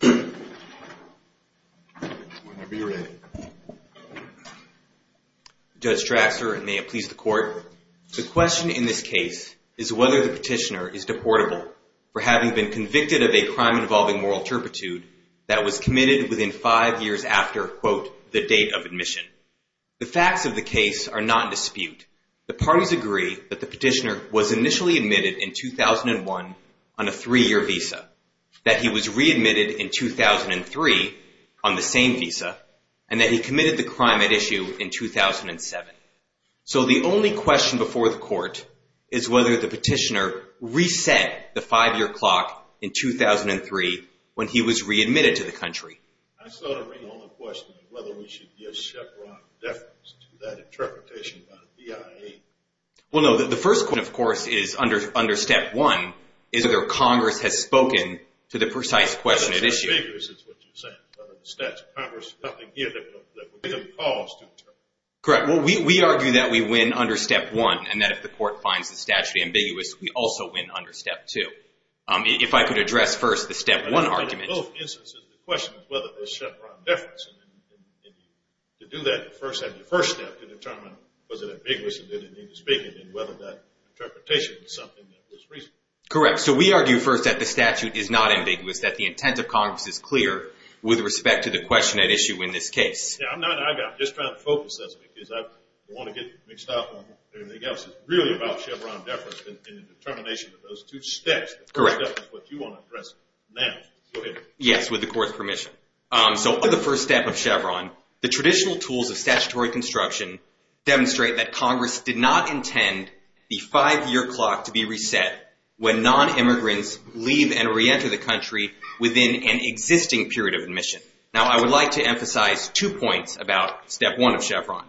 Judge Draxler, and may it please the court. The question in this case is whether the petitioner is deportable for having been convicted of a crime involving moral turpitude that was committed within five years after, quote, the date of admission. The facts of the case are not in dispute. The parties agree that the petitioner was initially admitted in 2001 on a three-year visa, that he was readmitted in 2003 on the same visa, and that he committed the crime at issue in 2007. So the only question before the court is whether the petitioner reset the five-year clock in 2003 when he was readmitted to the country. I still don't read all the questions, whether we should give Chevron deference to that interpretation by the BIA. Well, no. The first question, of course, is under step one, is whether Congress has spoken to the precise question at issue. It's ambiguous, is what you're saying, whether the statute of Congress is something here that would be of cause to determine. Correct. Well, we argue that we win under step one, and that if the court finds the statute ambiguous, we also win under step two. If I could address first the step one argument. In both instances, the question is whether there's Chevron deference. And to do that, first have your first step to determine, was it ambiguous, and did it need to speak, and whether that interpretation was something that was reasonable. Correct. So we argue first that the statute is not ambiguous, that the intent of Congress is clear with respect to the question at issue in this case. Yeah, I'm just trying to focus this, because I don't want to get mixed up on everything else. It's really about Chevron deference in the determination of those two steps. Correct. That's what you want to address now. Go ahead. Yes, with the court's permission. So under the first step of Chevron, the traditional tools of statutory construction demonstrate that Congress did not intend the five-year clock to be reset when non-immigrants leave and reenter the country within an existing period of admission. Now, I would like to emphasize two points about step one of Chevron.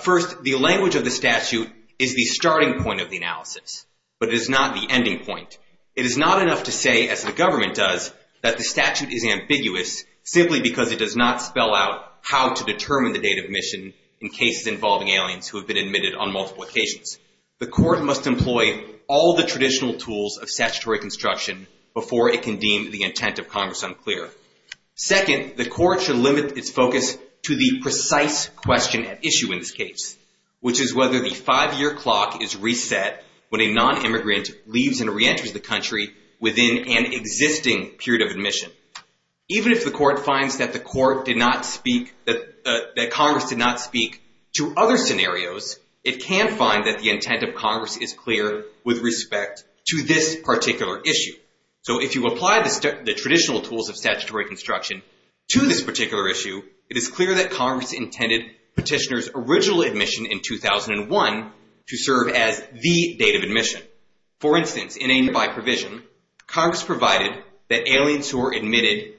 First, the language of the statute is the starting point of the analysis, but it is not the ending point. It is not enough to say, as the government does, that the statute is ambiguous simply because it does not spell out how to determine the date of admission in cases involving aliens who have been admitted on multiple occasions. The court must employ all the traditional tools of statutory construction before it can deem the intent of Congress unclear. Second, the court should limit its focus to the precise question at issue in this case, which is whether the five-year clock is reset when a non-immigrant leaves and reenters the country. Even if the court finds that Congress did not speak to other scenarios, it can find that the intent of Congress is clear with respect to this particular issue. So if you apply the traditional tools of statutory construction to this particular issue, it is clear that Congress intended petitioner's original admission in 2001 to serve as the date of admission. For instance, in a nearby provision, Congress provided that aliens who are admitted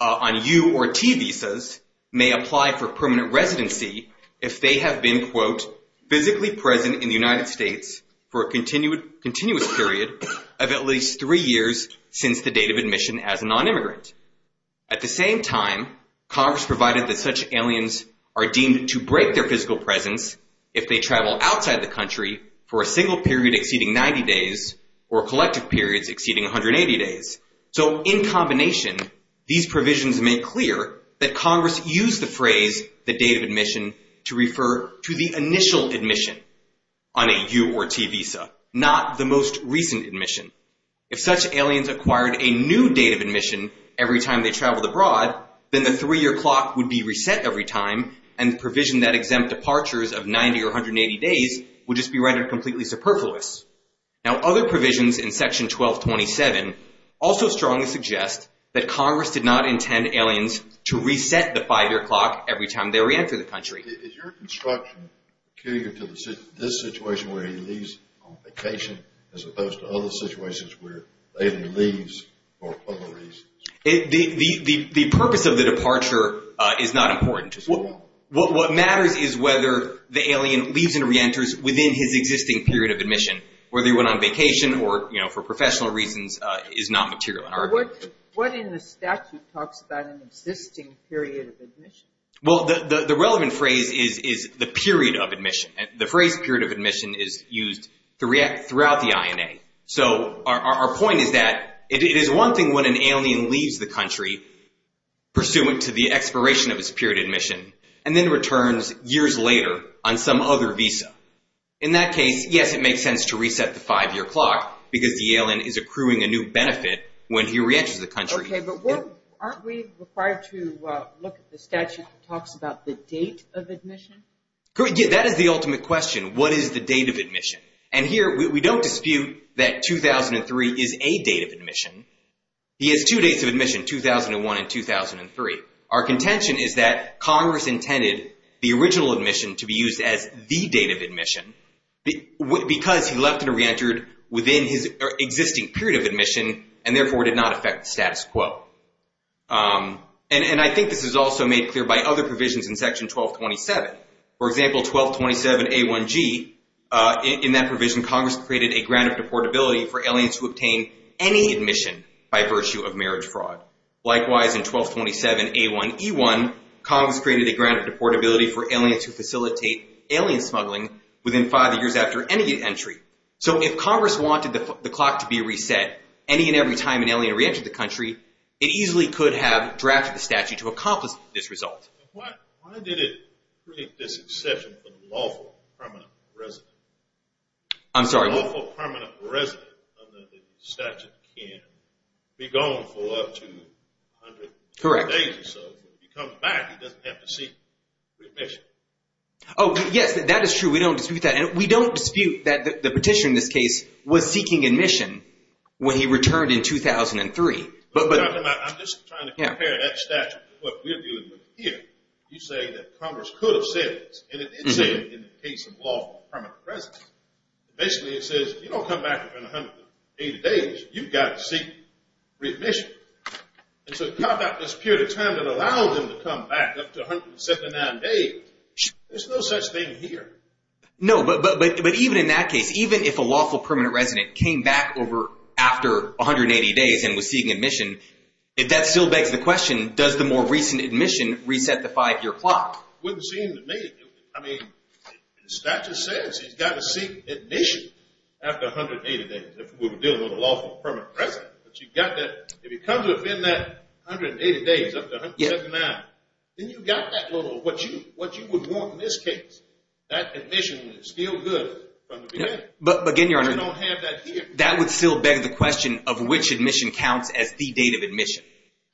on U or T visas may apply for permanent residency if they have been, quote, physically present in the United States for a continuous period of at least three years since the date of admission as a non-immigrant. At the same time, Congress provided that such aliens are deemed to break their physical presence if they travel outside the country for a single period exceeding 90 days or collective periods exceeding 180 days. So in combination, these provisions make clear that Congress used the phrase the date of admission to refer to the initial admission on a U or T visa, not the most recent admission. If such aliens acquired a new date of admission every time they traveled abroad, then the three-year clock would be reset every time, and the provision that exempt departures of 90 or 180 days would just be considered completely superfluous. Now, other provisions in Section 1227 also strongly suggest that Congress did not intend aliens to reset the five-year clock every time they reentered the country. Is your construction key to this situation where he leaves on vacation as opposed to other situations where the alien leaves for other reasons? The purpose of the departure is not important. It's wrong. What matters is whether the alien leaves and reenters within his existing period of admission, whether he went on vacation or, you know, for professional reasons, is not material in our view. What in the statute talks about an existing period of admission? Well, the relevant phrase is the period of admission. The phrase period of admission is used throughout the INA. So our point is that it is one thing when an alien leaves the country pursuant to the expiration of his period of admission and then returns years later on some other visa. In that case, yes, it makes sense to reset the five-year clock because the alien is accruing a new benefit when he reenters the country. Okay, but aren't we required to look at the statute that talks about the date of admission? Yeah, that is the ultimate question. What is the date of admission? And here, we don't dispute that 2003 is a date of admission. He has two dates of admission, 2001 and 2003. Our contention is that Congress intended the original admission to be used as the date of admission because he left and reentered within his existing period of admission and therefore did not affect the status quo. And I think this is also made clear by other provisions in Section 1227. For example, 1227A1G, in that provision, Congress created a grant of deportability for aliens who obtain any admission by virtue of marriage fraud. Likewise, in 1227A1E1, Congress created a grant of deportability for aliens who facilitate alien smuggling within five years after any entry. So if Congress wanted the clock to be reset any and every time an alien reentered the country, it easily could have drafted the statute to accomplish this result. Why did it create this exception for the lawful permanent resident? I'm sorry? The lawful permanent resident under the statute can be gone for up to 100 days or so. Correct. If he comes back, he doesn't have to seek remission. Oh, yes, that is true. We don't dispute that. And we don't dispute that the petitioner in this case was seeking admission when he returned in 2003. I'm just trying to compare that statute to what we're dealing with here. You say that Congress could have said this, and it did say it in the case of lawful permanent residents. Basically, it says, if you don't come back within 180 days, you've got to seek remission. And so to carve out this period of time that allowed him to come back up to 179 days, there's no such thing here. No, but even in that case, even if a lawful permanent resident came back after 180 days and was seeking admission, if that still begs the question, does the more recent admission reset the five-year clock? Wouldn't seem to me. I mean, the statute says he's got to seek admission after 180 days. If we were dealing with a lawful permanent resident, but you've got that, if he comes within that 180 days, up to 179, then you've got that little, what you would want in this case, that admission is still good from the beginning. But again, Your Honor, We don't have that here. That would still beg the question of which admission counts as the date of admission.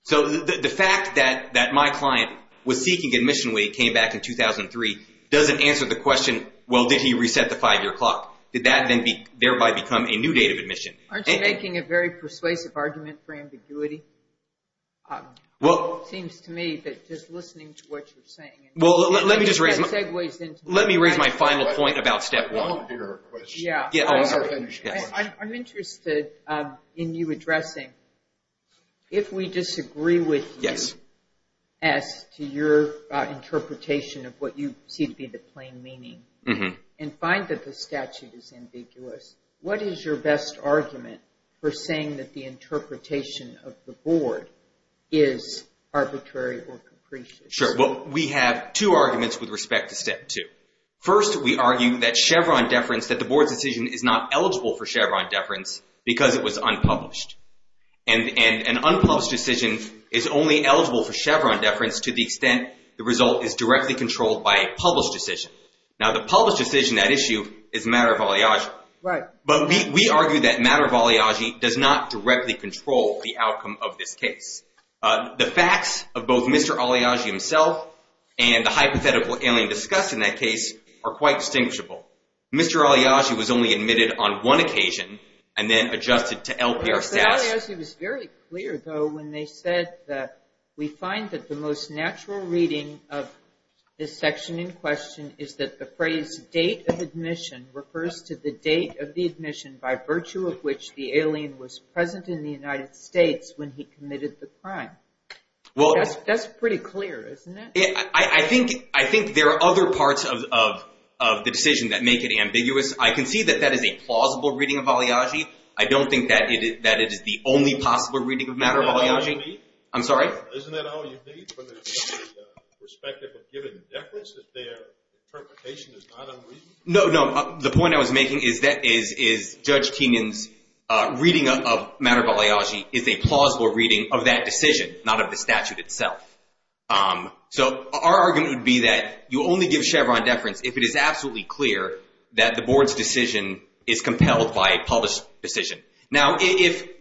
So the fact that my client was seeking admission when he came back in 2003 doesn't answer the question, well, did he reset the five-year clock? Did that then thereby become a new date of admission? Aren't you making a very persuasive argument for ambiguity? Well, It seems to me that just listening to what you're saying, Well, let me just raise my final point about step one. I'm interested in you addressing, if we disagree with you as to your interpretation of what you see to be the plain meaning and find that the statute is ambiguous, what is your best argument for saying that the interpretation of the board is arbitrary or capricious? Sure. Well, we have two arguments with respect to step two. First, we argue that Chevron deference, that the board's decision is not eligible for Chevron deference because it was unpublished. And an unpublished decision is only eligible for Chevron deference to the extent the result is directly controlled by a published decision. Now, the published decision at issue is a matter of oligarchy. Right. But we argue that matter of oligarchy does not directly control the outcome of this case. The facts of both Mr. Aliagi himself and the hypothetical alien discussed in that case are quite distinguishable. Mr. Aliagi was only admitted on one occasion and then adjusted to LPR status. Mr. Aliagi was very clear, though, when they said that we find that the most natural reading of this section in question is that the phrase date of admission refers to the date of the admission by virtue of which the alien was present in the United States when he committed the crime. That's pretty clear, isn't it? I think there are other parts of the decision that make it ambiguous. I can see that that is a plausible reading of Aliagi. I don't think that it is the only possible reading of matter of oligarchy. Isn't that all you need from the perspective of giving deference if their interpretation is not unreasonable? No, no. The point I was making is that Judge Kenyon's reading of matter of oligarchy is a plausible reading of that decision, not of the statute itself. So our argument would be that you only give Chevron deference if it is absolutely clear that the board's decision is compelled by a published decision. Now,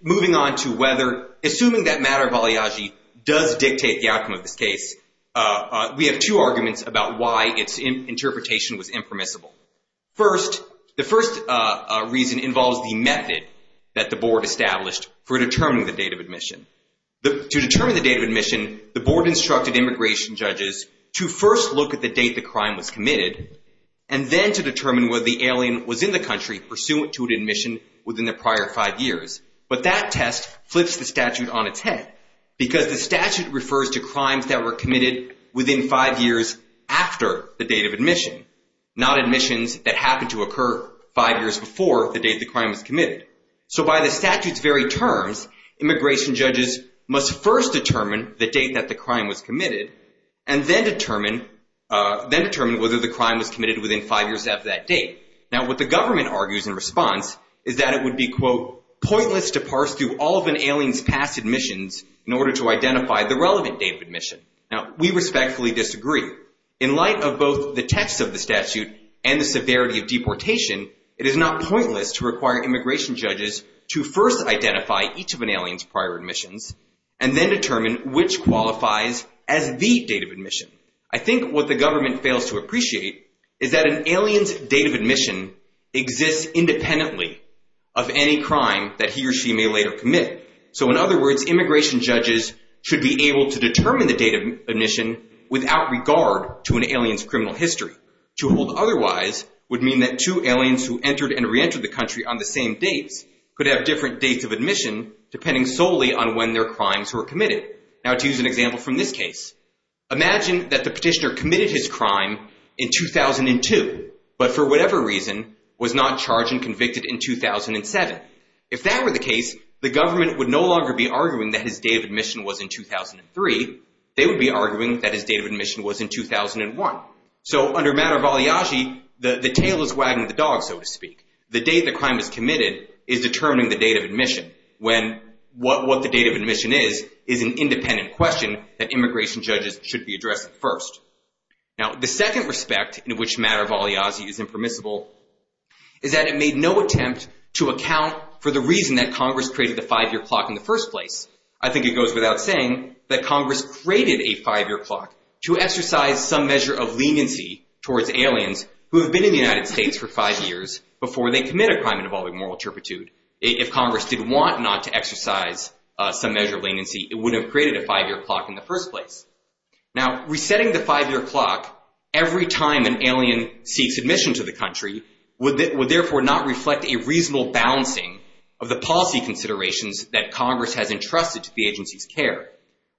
moving on to whether assuming that matter of oligarchy does dictate the outcome of this case, we have two arguments about why its interpretation was impermissible. First, the first reason involves the method that the board established for determining the date of admission. To determine the date of admission, the board instructed immigration judges to first look at the date the crime was committed and then to determine whether the alien was in the country pursuant to an admission within the prior five years. But that test flips the statute on its head because the statute refers to crimes that were committed within five years after the date of admission, not admissions that happened to occur five years before the date the crime was committed. So by the statute's very terms, immigration judges must first determine the date that the crime was committed and then determine whether the crime was committed within five years after that date. Now, what the government argues in response is that it would be, quote, pointless to parse through all of an alien's past admissions in order to identify the relevant date of admission. Now, we respectfully disagree. In light of both the text of the statute and the severity of deportation, it is not pointless to require immigration judges to first identify each of an alien's prior admissions I think what the government fails to appreciate is that an alien's date of admission exists independently of any crime that he or she may later commit. So in other words, immigration judges should be able to determine the date of admission without regard to an alien's criminal history. To hold otherwise would mean that two aliens who entered and reentered the country on the same dates could have different dates of admission depending solely on when their crimes were committed. Now, to use an example from this case, imagine that the petitioner committed his crime in 2002 but for whatever reason was not charged and convicted in 2007. If that were the case, the government would no longer be arguing that his date of admission was in 2003. They would be arguing that his date of admission was in 2001. So under matter of balayage, the tail is wagging the dog, so to speak. The date the crime was committed is determining the date of admission when what the date of admission is is an independent question that immigration judges should be addressing first. Now, the second respect in which matter of balayage is impermissible is that it made no attempt to account for the reason that Congress created the five-year clock in the first place. I think it goes without saying that Congress created a five-year clock to exercise some measure of leniency towards aliens who have been in the United States for five years before they commit a crime involving moral turpitude. If Congress did want not to exercise some measure of leniency, it would have created a five-year clock in the first place. Now, resetting the five-year clock every time an alien seeks admission to the country would therefore not reflect a reasonable balancing of the policy considerations that Congress has entrusted to the agency's care.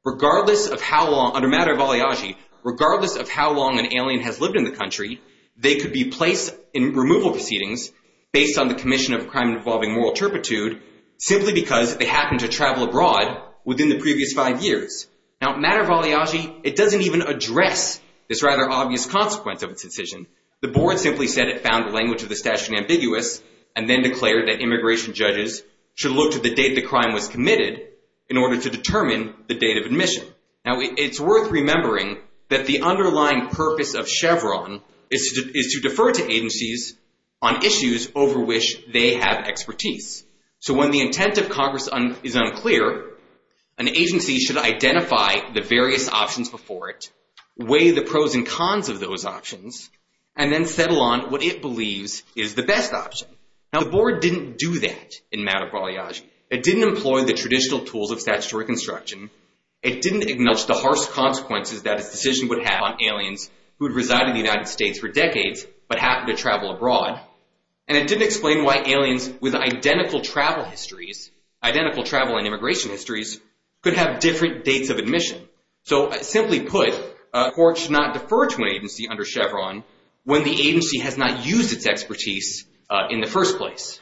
Under matter of balayage, regardless of how long an alien has lived in the country, they could be placed in removal proceedings based on the commission of a crime involving moral turpitude simply because they happened to travel abroad within the previous five years. Now, matter of balayage, it doesn't even address this rather obvious consequence of its decision. The board simply said it found the language of the statute ambiguous and then declared that immigration judges should look to the date the crime was committed in order to determine the date of admission. Now, it's worth remembering that the underlying purpose of Chevron is to defer to agencies on issues over which they have expertise. So when the intent of Congress is unclear, an agency should identify the various options before it, weigh the pros and cons of those options, and then settle on what it believes is the best option. Now, the board didn't do that in matter of balayage. It didn't employ the traditional tools of statutory construction. It didn't acknowledge the harsh consequences that its decision would have on aliens who had resided in the United States for decades but happened to travel abroad. And it didn't explain why aliens with identical travel histories, identical travel and immigration histories, could have different dates of admission. So simply put, a court should not defer to an agency under Chevron when the agency has not used its expertise in the first place.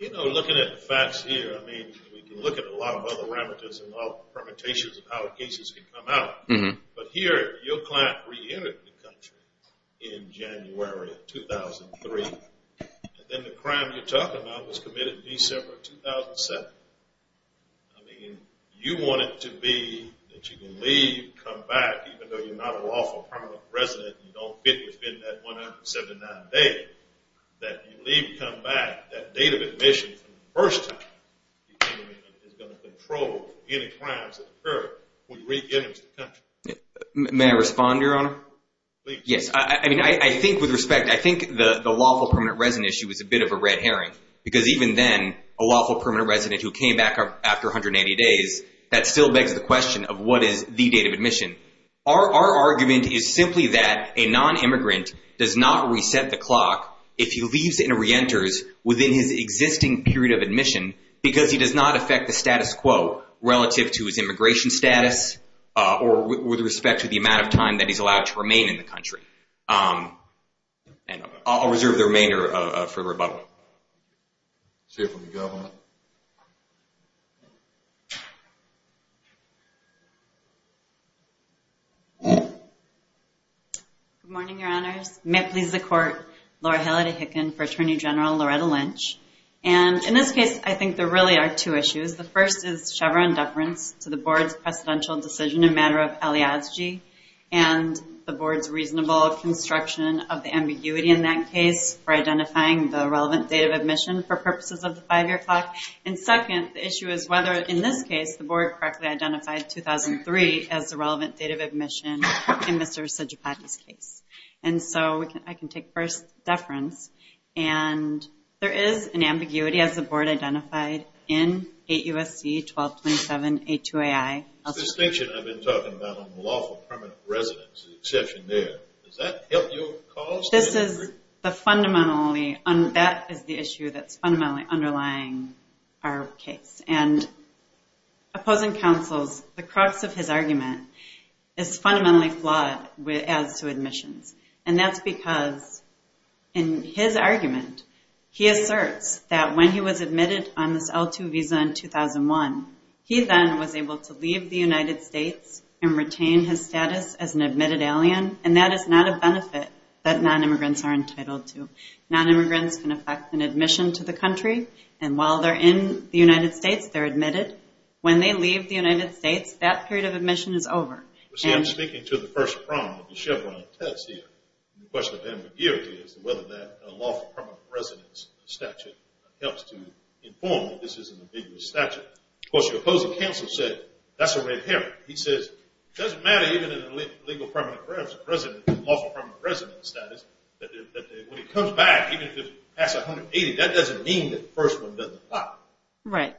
You know, looking at the facts here, I mean, we can look at a lot of other parameters and all permutations of how cases can come out. But here, your client reentered the country in January of 2003, and then the crime you're talking about was committed in December of 2007. I mean, you want it to be that you can leave, come back, even though you're not a lawful permanent resident and you don't fit within that 179 days, that you leave, come back, that date of admission for the first time, the interment is going to control any crimes that occur when you reenter the country. May I respond, Your Honor? Please. Yes. I mean, I think with respect, I think the lawful permanent resident issue is a bit of a red herring because even then, a lawful permanent resident who came back after 180 days, Our argument is simply that a non-immigrant does not reset the clock if he leaves and reenters within his existing period of admission because he does not affect the status quo relative to his immigration status or with respect to the amount of time that he's allowed to remain in the country. I'll reserve the remainder for rebuttal. Chief of the Government. Good morning, Your Honors. May it please the Court. Laura Halliday Hicken for Attorney General Loretta Lynch. And in this case, I think there really are two issues. The first is Chevron deference to the Board's presidential decision in matter of aliasgee and the Board's reasonable construction of the ambiguity in that case for identifying the relevant date of admission for purposes of the five-year clock. And second, the issue is whether, in this case, the Board correctly identified 2003 as the relevant date of admission in Mr. Sijapati's case. And so I can take first deference. And there is an ambiguity, as the Board identified, in 8 U.S.C. 1227-82-AI. The distinction I've been talking about on the lawful permanent resident is the exception there. Does that help your cause? That is the issue that's fundamentally underlying our case. And opposing counsels, the crux of his argument is fundamentally flawed as to admissions. And that's because in his argument, he asserts that when he was admitted on this L-2 visa in 2001, he then was able to leave the United States and retain his status as an admitted alien, and that is not a benefit that nonimmigrants are entitled to. Nonimmigrants can affect an admission to the country, and while they're in the United States, they're admitted. When they leave the United States, that period of admission is over. Well, see, I'm speaking to the first prong of the Chevron test here. The question of ambiguity is whether that lawful permanent residence statute helps to inform that this is an ambiguous statute. Of course, your opposing counsel said that's a red herring. He says it doesn't matter even if an illegal permanent resident has a lawful permanent resident status. When he comes back, even if it's past 180, that doesn't mean that the first one doesn't apply. Right.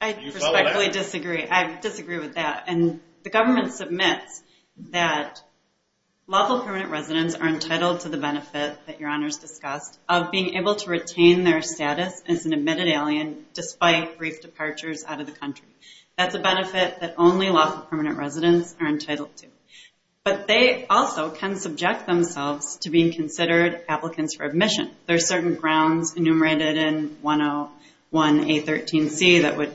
I respectfully disagree. I disagree with that. And the government submits that lawful permanent residents are entitled to the benefit that Your Honors discussed of being able to retain their status as an admitted alien despite brief departures out of the country. That's a benefit that only lawful permanent residents are entitled to. But they also can subject themselves to being considered applicants for admission. There are certain grounds enumerated in 101A13C that would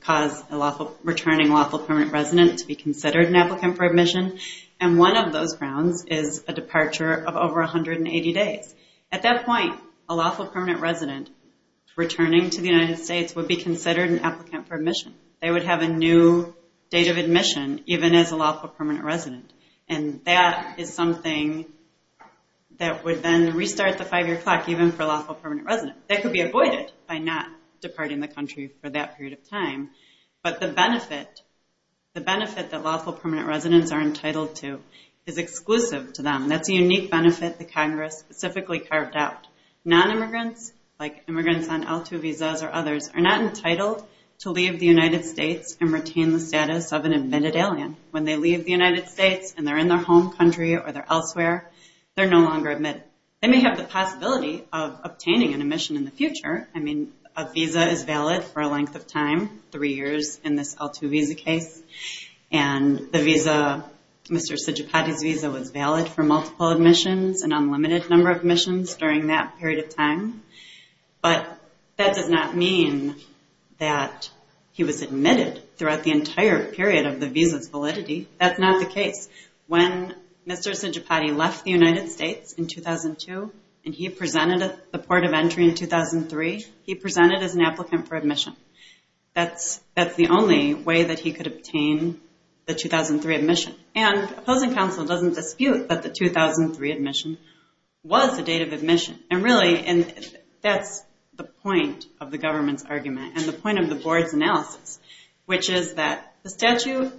cause a returning lawful permanent resident to be considered an applicant for admission, and one of those grounds is a departure of over 180 days. At that point, a lawful permanent resident returning to the United States would be considered an applicant for admission. They would have a new date of admission even as a lawful permanent resident, and that is something that would then restart the five-year clock even for a lawful permanent resident. That could be avoided by not departing the country for that period of time, but the benefit that lawful permanent residents are entitled to is exclusive to them. That's a unique benefit that Congress specifically carved out. Non-immigrants, like immigrants on L-2 visas or others, are not entitled to leave the United States and retain the status of an admitted alien. When they leave the United States and they're in their home country or they're elsewhere, they're no longer admitted. They may have the possibility of obtaining an admission in the future. I mean, a visa is valid for a length of time, three years in this L-2 visa case, and the visa, Mr. Sijapati's visa, was valid for multiple admissions, an unlimited number of admissions during that period of time. But that does not mean that he was admitted throughout the entire period of the visa's validity. That's not the case. When Mr. Sijapati left the United States in 2002 and he presented at the port of entry in 2003, he presented as an applicant for admission. That's the only way that he could obtain the 2003 admission. And opposing counsel doesn't dispute that the 2003 admission was a date of admission. And really, that's the point of the government's argument and the point of the board's analysis, which is that the statute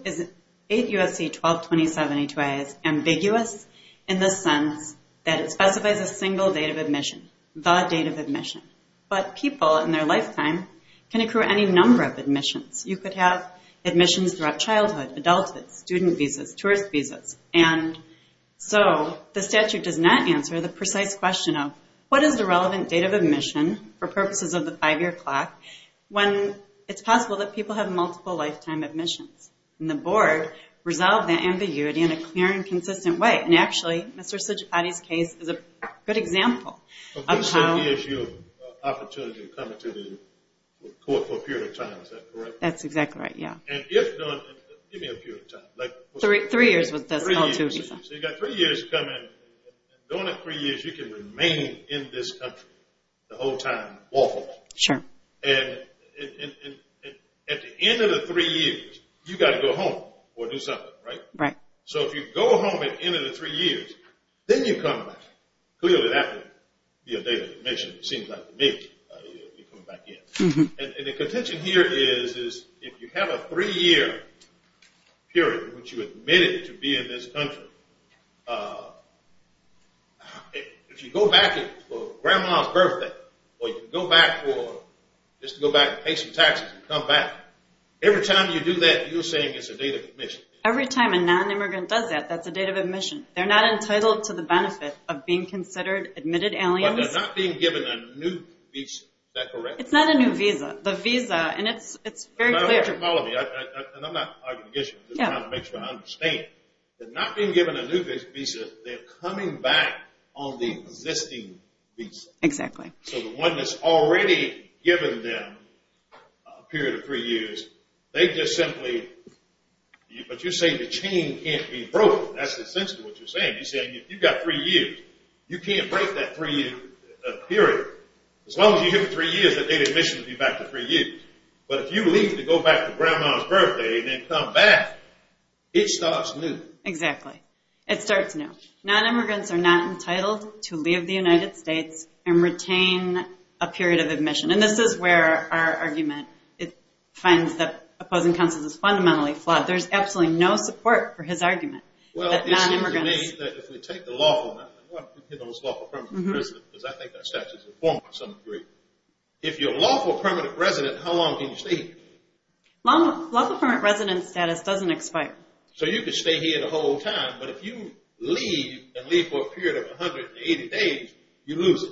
8 U.S.C. 122072A is ambiguous in the sense that it specifies a single date of admission, the date of admission. But people in their lifetime can accrue any number of admissions. You could have admissions throughout childhood, adulthood, student visas, tourist visas. And so the statute does not answer the precise question of, what is the relevant date of admission for purposes of the five-year clock when it's possible that people have multiple lifetime admissions? And the board resolved that ambiguity in a clear and consistent way. And actually, Mr. Sijapati's case is a good example of how. So three years is your opportunity of coming to the court for a period of time. Is that correct? That's exactly right, yeah. And if done, give me a period of time. Three years with this. Oh, two years. So you've got three years to come in. And during that three years, you can remain in this country the whole time, walkable. Sure. And at the end of the three years, you've got to go home or do something, right? Right. So if you go home at the end of the three years, then you come back. Clearly, that would be a date of admission. It seems like to me you're coming back in. And the contention here is if you have a three-year period in which you admitted to be in this country, if you go back for Grandma's birthday or you go back for just to go back and pay some taxes and come back, every time you do that, you're saying it's a date of admission. Every time a non-immigrant does that, that's a date of admission. They're not entitled to the benefit of being considered admitted aliens. But they're not being given a new visa. Is that correct? It's not a new visa. The visa, and it's very clear to me. And I'm not arguing against you. I'm just trying to make sure I understand. They're not being given a new visa. They're coming back on the existing visa. Exactly. So the one that's already given them a period of three years, they just simply, but you're saying the chain can't be broken. That's essentially what you're saying. You're saying if you've got three years, you can't break that three-year period. As long as you give them three years, that date of admission will be back to three years. But if you leave to go back to Grandma's birthday and then come back, it starts new. Exactly. It starts new. Non-immigrants are not entitled to leave the United States and retain a period of admission. And this is where our argument finds that opposing counsel is fundamentally flawed. There's absolutely no support for his argument that non-immigrants. Well, it seems to me that if we take the lawful, I don't want to hit on this lawful permanent resident because I think that statute is informed to some degree. If you're a lawful permanent resident, how long can you stay here? Lawful permanent resident status doesn't expire. So you could stay here the whole time, but if you leave and leave for a period of 180 days, you lose it.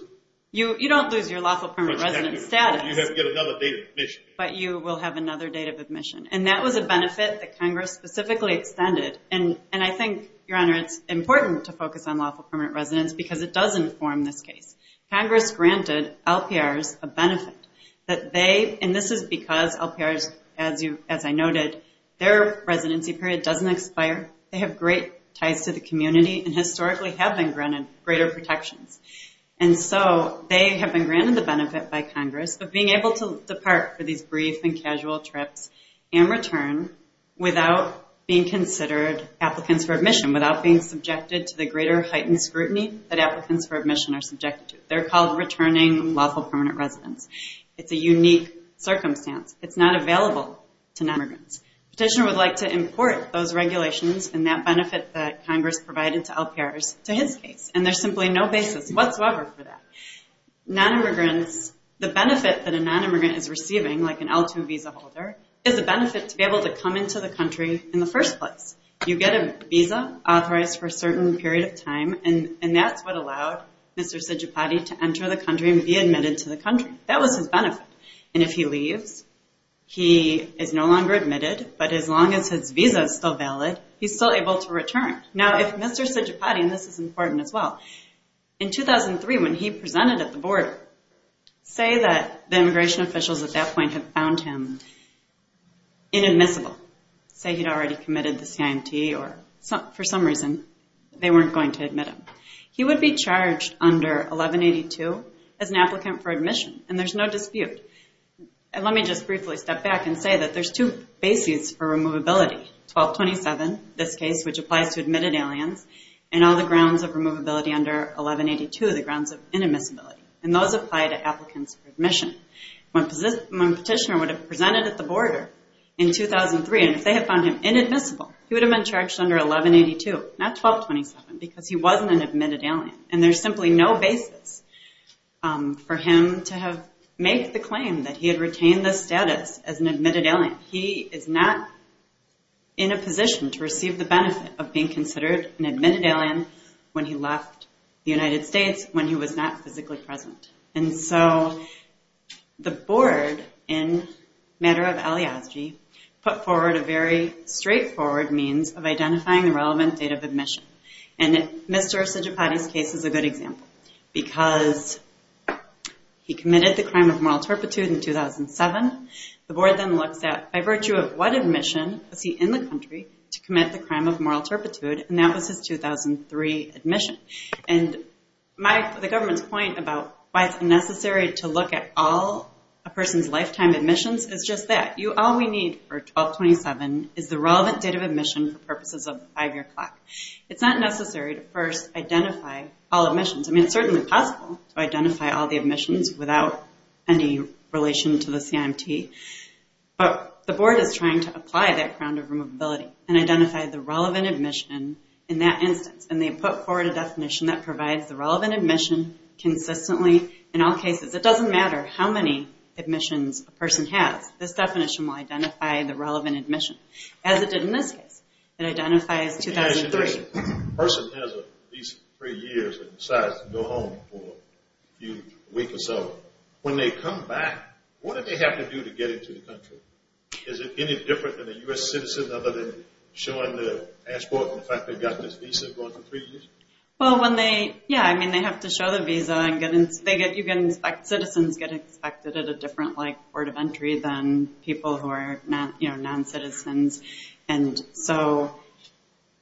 You don't lose your lawful permanent resident status. You have to get another date of admission. But you will have another date of admission. And that was a benefit that Congress specifically extended. And I think, Your Honor, it's important to focus on lawful permanent residents because it does inform this case. Congress granted LPRs a benefit. And this is because LPRs, as I noted, their residency period doesn't expire. They have great ties to the community and historically have been granted greater protections. And so they have been granted the benefit by Congress of being able to depart for these brief and casual trips and return without being considered applicants for admission, without being subjected to the greater heightened scrutiny that applicants for admission are subjected to. They're called returning lawful permanent residents. It's a unique circumstance. It's not available to non-immigrants. Petitioner would like to import those regulations and that benefit that Congress provided to LPRs to his case. And there's simply no basis whatsoever for that. Non-immigrants, the benefit that a non-immigrant is receiving, like an L2 visa holder, is a benefit to be able to come into the country in the first place. You get a visa authorized for a certain period of time, and that's what allowed Mr. Sijapati to enter the country and be admitted to the country. That was his benefit. And if he leaves, he is no longer admitted. But as long as his visa is still valid, he's still able to return. Now, if Mr. Sijapati, and this is important as well, in 2003 when he presented at the border, say that the immigration officials at that point had found him inadmissible, say he'd already committed the CIMT or for some reason they weren't going to admit him, he would be charged under 1182 as an applicant for admission, and there's no dispute. And let me just briefly step back and say that there's two bases for removability. 1227, this case, which applies to admitted aliens, and all the grounds of removability under 1182, the grounds of inadmissibility. And those apply to applicants for admission. When Petitioner would have presented at the border in 2003, and if they had found him inadmissible, he would have been charged under 1182, not 1227, because he wasn't an admitted alien. And there's simply no basis for him to have made the claim that he had retained this status as an admitted alien. He is not in a position to receive the benefit of being considered an admitted alien when he left the United States when he was not physically present. And so the board, in a matter of alias-gy, put forward a very straightforward means of identifying the relevant date of admission. And Mr. Sijapati's case is a good example. Because he committed the crime of moral turpitude in 2007, the board then looks at by virtue of what admission was he in the country to commit the crime of moral turpitude, and that was his 2003 admission. And the government's point about why it's necessary to look at all a person's lifetime admissions is just that. All we need for 1227 is the relevant date of admission for purposes of the five-year clock. It's not necessary to first identify all admissions. I mean, it's certainly possible to identify all the admissions without any relation to the CIMT. But the board is trying to apply that crown of removability and identify the relevant admission in that instance. And they put forward a definition that provides the relevant admission consistently in all cases. It doesn't matter how many admissions a person has. This definition will identify the relevant admission. As it did in this case. It identifies 2003. If a person has a visa for three years and decides to go home for a week or so, when they come back, what do they have to do to get into the country? Is it any different than a U.S. citizen other than showing their passport and the fact they've got this visa going for three years? Well, when they, yeah, I mean, they have to show their visa. Citizens get inspected at a different board of entry than people who are noncitizens. And so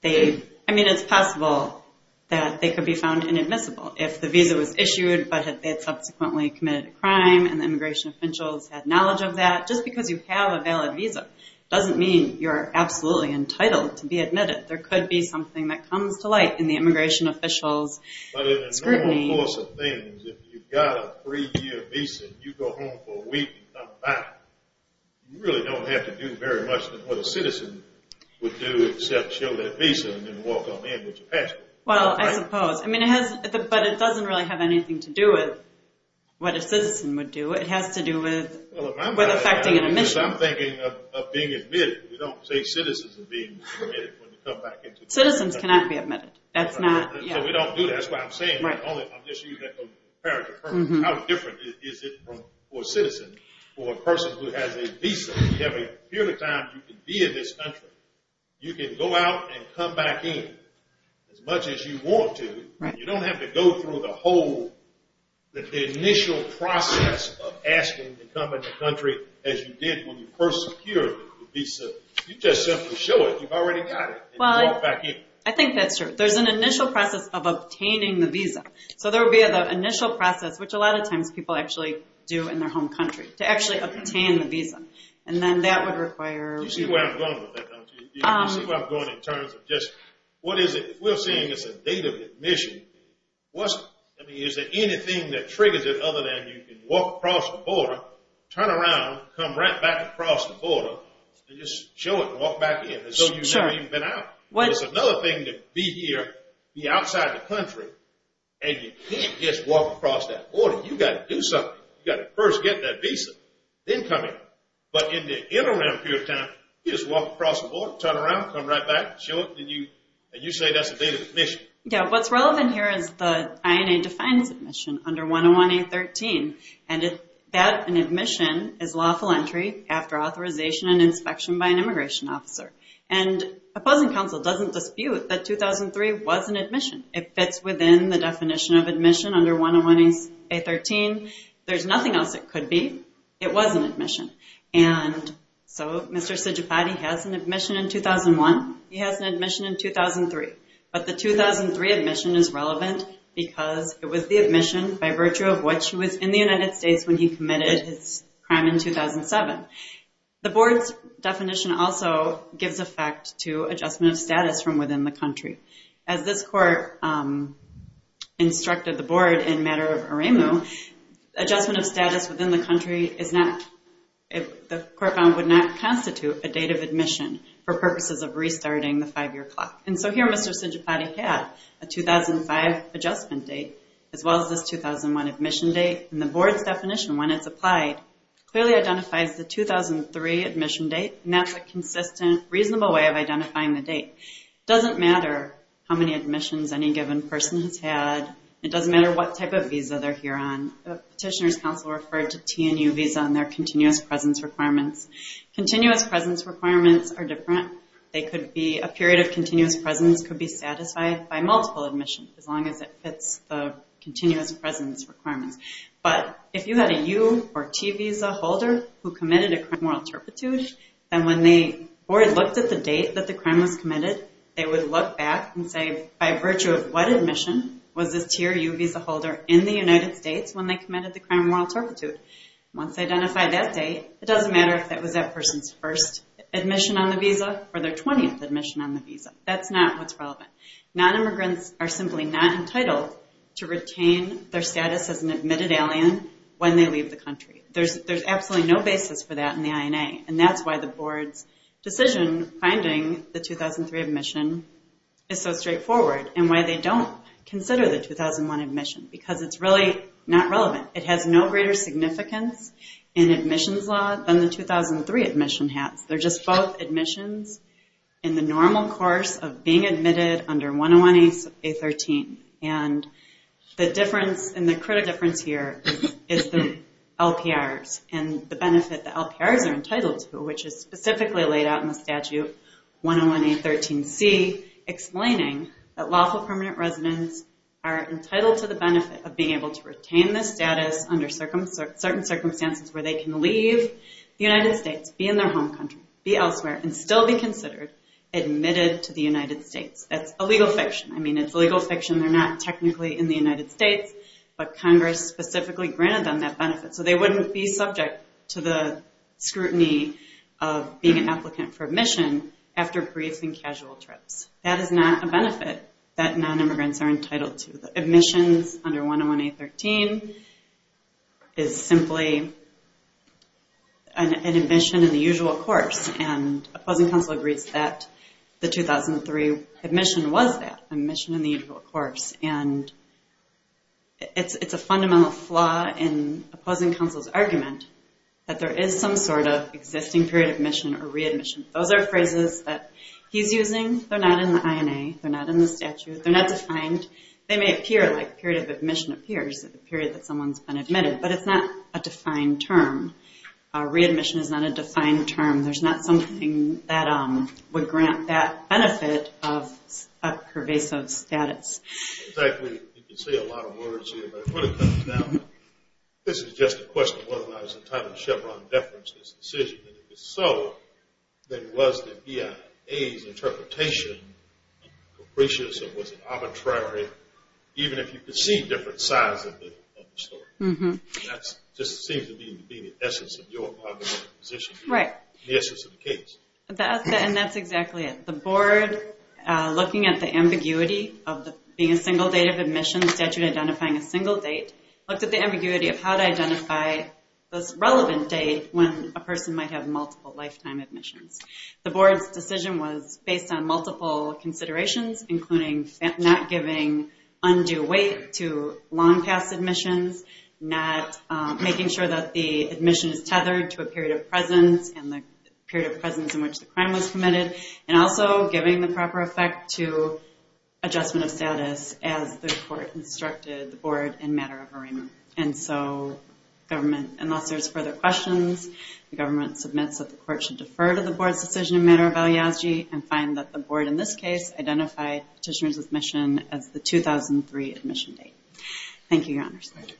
they, I mean, it's possible that they could be found inadmissible. If the visa was issued but they had subsequently committed a crime and the immigration officials had knowledge of that, just because you have a valid visa doesn't mean you're absolutely entitled to be admitted. There could be something that comes to light in the immigration officials' scrutiny. But in the normal course of things, if you've got a three-year visa and you go home for a week and come back, you really don't have to do very much than what a citizen would do except show their visa and then walk on in with your passport. Well, I suppose. But it doesn't really have anything to do with what a citizen would do. It has to do with affecting an admission. I'm thinking of being admitted. We don't say citizens are being admitted when you come back into the country. Citizens cannot be admitted. That's not, yeah. So we don't do that. That's why I'm saying that. I'm just using that as a paragraph. How different is it for a citizen or a person who has a visa? You have a period of time you can be in this country. You can go out and come back in as much as you want to. You don't have to go through the whole initial process of asking to come in the country as you did when you first secured the visa. You just simply show it. You've already got it, and you walk back in. There's an initial process of obtaining the visa. So there would be the initial process, which a lot of times people actually do in their home country, to actually obtain the visa. And then that would require... You see where I'm going with that, don't you? You see where I'm going in terms of just what is it? If we're saying it's a date of admission, is there anything that triggers it other than you can walk across the border, turn around, come right back across the border, Sure. It's another thing to be here, be outside the country, and you can't just walk across that border. You've got to do something. You've got to first get that visa, then come in. But in the interim period of time, you just walk across the border, turn around, come right back, show it, and you say that's a date of admission. Yeah. What's relevant here is the INA defines admission under 101A13, and that admission is lawful entry after authorization and inspection by an immigration officer. And opposing counsel doesn't dispute that 2003 was an admission. It fits within the definition of admission under 101A13. There's nothing else it could be. It was an admission. And so Mr. Sijapati has an admission in 2001. He has an admission in 2003. But the 2003 admission is relevant because it was the admission by virtue of which he was in the United States when he committed his crime in 2007. The board's definition also gives effect to adjustment of status from within the country. As this court instructed the board in matter of Aremu, adjustment of status within the country is not, the court found would not constitute a date of admission for purposes of restarting the five-year clock. And so here Mr. Sijapati had a 2005 adjustment date as well as this 2001 admission date. And the board's definition when it's applied clearly identifies the 2003 admission date, and that's a consistent, reasonable way of identifying the date. It doesn't matter how many admissions any given person has had. It doesn't matter what type of visa they're here on. Petitioner's counsel referred to T&U visa and their continuous presence requirements. Continuous presence requirements are different. They could be a period of continuous presence could be satisfied by multiple admissions as long as it fits the continuous presence requirements. But if you had a U or T visa holder who committed a crime of moral turpitude, then when the board looked at the date that the crime was committed, they would look back and say by virtue of what admission was this T or U visa holder in the United States when they committed the crime of moral turpitude. Once they identify that date, it doesn't matter if that was that person's first admission on the visa or their 20th admission on the visa. That's not what's relevant. Nonimmigrants are simply not entitled to retain their status as an admitted alien when they leave the country. There's absolutely no basis for that in the INA, and that's why the board's decision finding the 2003 admission is so straightforward and why they don't consider the 2001 admission because it's really not relevant. It has no greater significance in admissions law than the 2003 admission has. They're just both admissions in the normal course of being admitted under 101A13, and the critical difference here is the LPRs and the benefit the LPRs are entitled to, which is specifically laid out in the statute 101A13C, explaining that lawful permanent residents are entitled to the benefit of being able to retain their status under certain circumstances where they can leave the United States, be in their home country, be elsewhere, and still be considered admitted to the United States. That's a legal fiction. I mean, it's legal fiction. They're not technically in the United States, but Congress specifically granted them that benefit, so they wouldn't be subject to the scrutiny of being an applicant for admission after brief and casual trips. That is not a benefit that nonimmigrants are entitled to. Admissions under 101A13 is simply an admission in the usual course, and opposing counsel agrees that the 2003 admission was that, an admission in the usual course, and it's a fundamental flaw in opposing counsel's argument that there is some sort of existing period of admission or readmission. Those are phrases that he's using. They're not in the INA. They're not in the statute. They're not defined. They may appear, like a period of admission appears, a period that someone's been admitted, but it's not a defined term. Readmission is not a defined term. There's not something that would grant that benefit of a pervasive status. Exactly. You can say a lot of words here, but when it comes down, this is just a question of whether or not it's entitled to Chevron deference in this decision. And if it's so, then was the BIA's interpretation capricious or was it arbitrary, even if you could see different sides of the story? That just seems to be the essence of your position. Right. The essence of the case. And that's exactly it. The board, looking at the ambiguity of being a single date of admission, the statute identifying a single date, looked at the ambiguity of how to identify this relevant date when a person might have multiple lifetime admissions. The board's decision was based on multiple considerations, including not giving undue weight to long past admissions, not making sure that the admission is tethered to a period of presence and the period of presence in which the crime was committed, and also giving the proper effect to adjustment of status as the court instructed the board in matter of arraignment. And so government, unless there's further questions, the government submits that the court should defer to the board's decision in matter of aliazgi and find that the board in this case identified petitioner's admission as the 2003 admission date. Thank you, Your Honors. Thank you.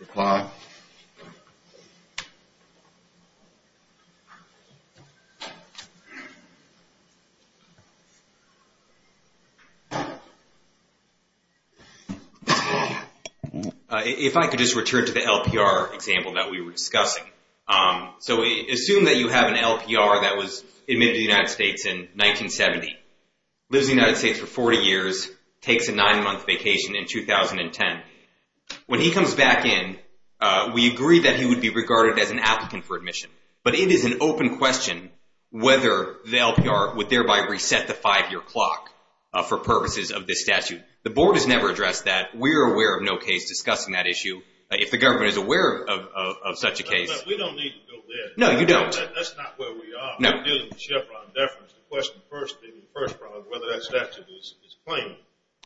Required. If I could just return to the LPR example that we were discussing. So assume that you have an LPR that was admitted to the United States in 1970, lives in the United States for 40 years, takes a nine-month vacation in 2010. When he comes back in, we agree that he would be regarded as an applicant for admission. But it is an open question whether the LPR would thereby reset the five-year clock for purposes of this statute. The board has never addressed that. We are aware of no case discussing that issue. If the government is aware of such a case. We don't need to go there. No, you don't. That's not where we are. No. We're dealing with Chevron deference. The question first is whether that statute is plain.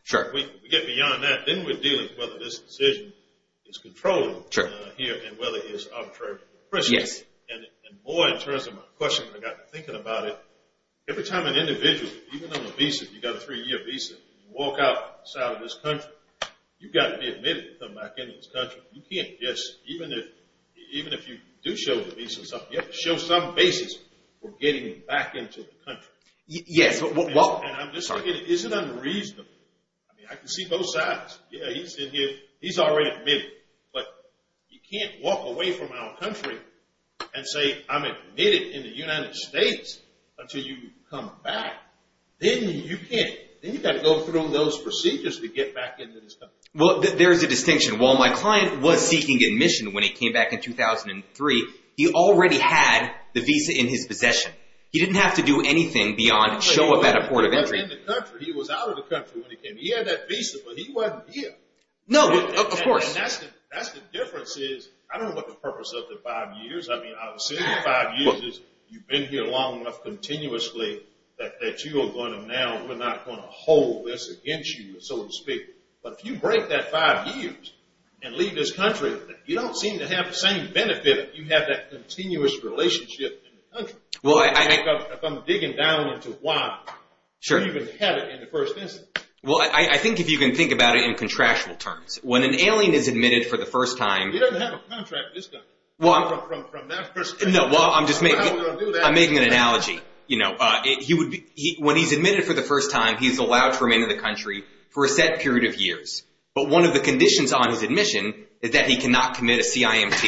Sure. We get beyond that. Then we're dealing with whether this decision is controllable. Sure. And whether it is arbitrary. Yes. And more in terms of my question, I got to thinking about it. Every time an individual, even on a visa, you've got a three-year visa, you walk outside of this country, you've got to be admitted to come back into this country. You can't just, even if you do show the visa, you have to show some basis for getting back into the country. Yes. And I'm just looking at it. Is it unreasonable? I mean, I can see both sides. Yeah, he's in here. He's already admitted. But you can't walk away from our country and say I'm admitted in the United States until you come back. Then you can't. Then you've got to go through those procedures to get back into this country. Well, there's a distinction. While my client was seeking admission when he came back in 2003, he already had the visa in his possession. He didn't have to do anything beyond show up at a port of entry. But in the country. He was out of the country when he came. He had that visa, but he wasn't here. No, of course. And that's the difference is, I don't know what the purpose of the five years. I mean, I would say the five years is you've been here long enough continuously that you are going to now, we're not going to hold this against you, so to speak. But if you break that five years and leave this country, you don't seem to have the same benefit if you have that continuous relationship in the country. If I'm digging down into why you even had it in the first instance. Well, I think if you can think about it in contractual terms. When an alien is admitted for the first time. He doesn't have a contract with this country from that perspective. I'm making an analogy. When he's admitted for the first time, he's allowed to remain in the country for a set period of years. But one of the conditions on his admission is that he cannot commit a CIMT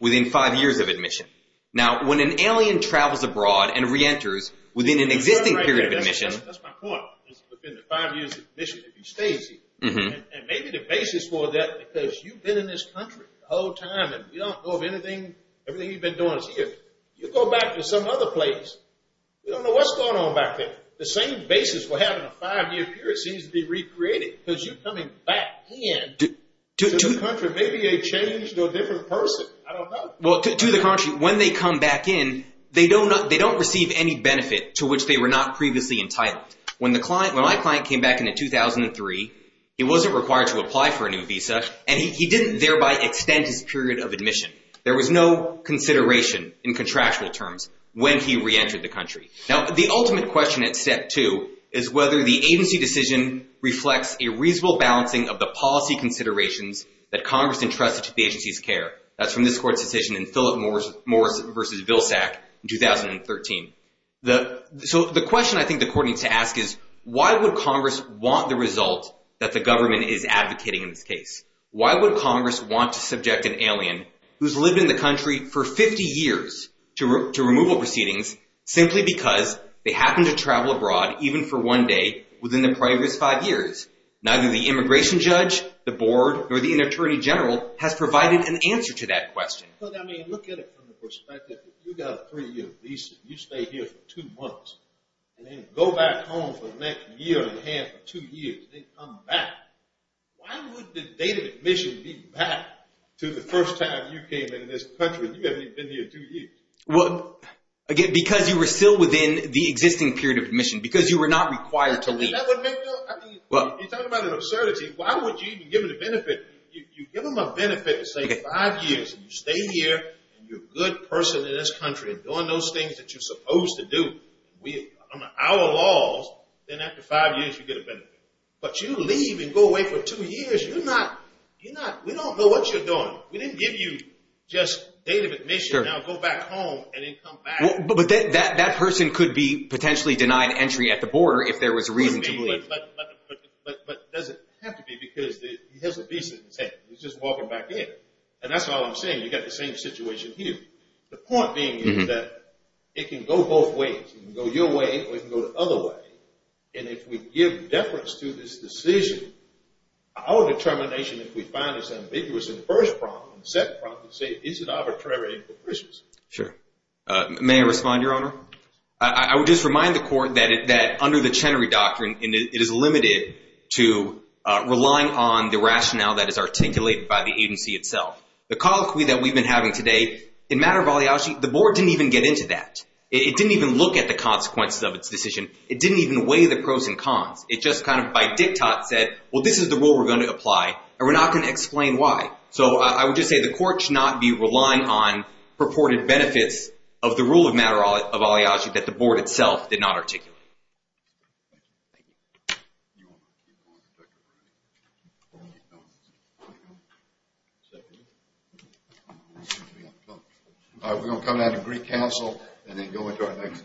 within five years of admission. Now, when an alien travels abroad and reenters within an existing period of admission. That's my point. It's within the five years of admission if he stays here. And maybe the basis for that because you've been in this country the whole time and you don't know of anything, everything you've been doing is here. You go back to some other place. You don't know what's going on back there. The same basis for having a five-year period seems to be recreated because you're coming back in to the country. Maybe they changed a different person. I don't know. Well, to the contrary, when they come back in, they don't receive any benefit to which they were not previously entitled. When my client came back in 2003, he wasn't required to apply for a new visa, and he didn't thereby extend his period of admission. There was no consideration in contractual terms when he reentered the country. Now, the ultimate question at step two is whether the agency decision reflects a reasonable balancing of the policy considerations that Congress entrusted to the agency's care. That's from this court's decision in Philip Morris v. Vilsack in 2013. So the question I think the court needs to ask is, why would Congress want the result that the government is advocating in this case? Why would Congress want to subject an alien who's lived in the country for 50 years to removal proceedings simply because they happened to travel abroad even for one day within the previous five years? Neither the immigration judge, the board, or the attorney general has provided an answer to that question. I mean, look at it from the perspective. You got a three-year visa. You stay here for two months, and then go back home for the next year and a half or two years. They come back. Why would the date of admission be back to the first time you came into this country? You haven't even been here two years. Again, because you were still within the existing period of admission, because you were not required to leave. You're talking about an absurdity. Why would you even give them the benefit? You give them a benefit of, say, five years, and you stay here, and you're a good person in this country and doing those things that you're supposed to do. On our laws, then after five years, you get a benefit. But you leave and go away for two years. We don't know what you're doing. We didn't give you just date of admission. Now go back home and then come back. But that person could be potentially denied entry at the border if there was a reason to leave. But does it have to be because he has a visa? He's just walking back in. And that's all I'm saying. You've got the same situation here. The point being is that it can go both ways. It can go your way or it can go the other way. And if we give deference to this decision, our determination, if we find this ambiguous in the first problem, in the second problem, is it arbitrary and capricious? Sure. May I respond, Your Honor? I would just remind the court that under the Chenery Doctrine, it is limited to relying on the rationale that is articulated by the agency itself. The colloquy that we've been having today, in matter of balayage, the board didn't even get into that. It didn't even look at the consequences of its decision. It didn't even weigh the pros and cons. It just kind of by diktat said, well, this is the rule we're going to apply, and we're not going to explain why. So I would just say the court should not be relying on purported benefits of the rule of matter of balayage that the board itself did not articulate. We're going to come down to Greek Council and then go into our next dates.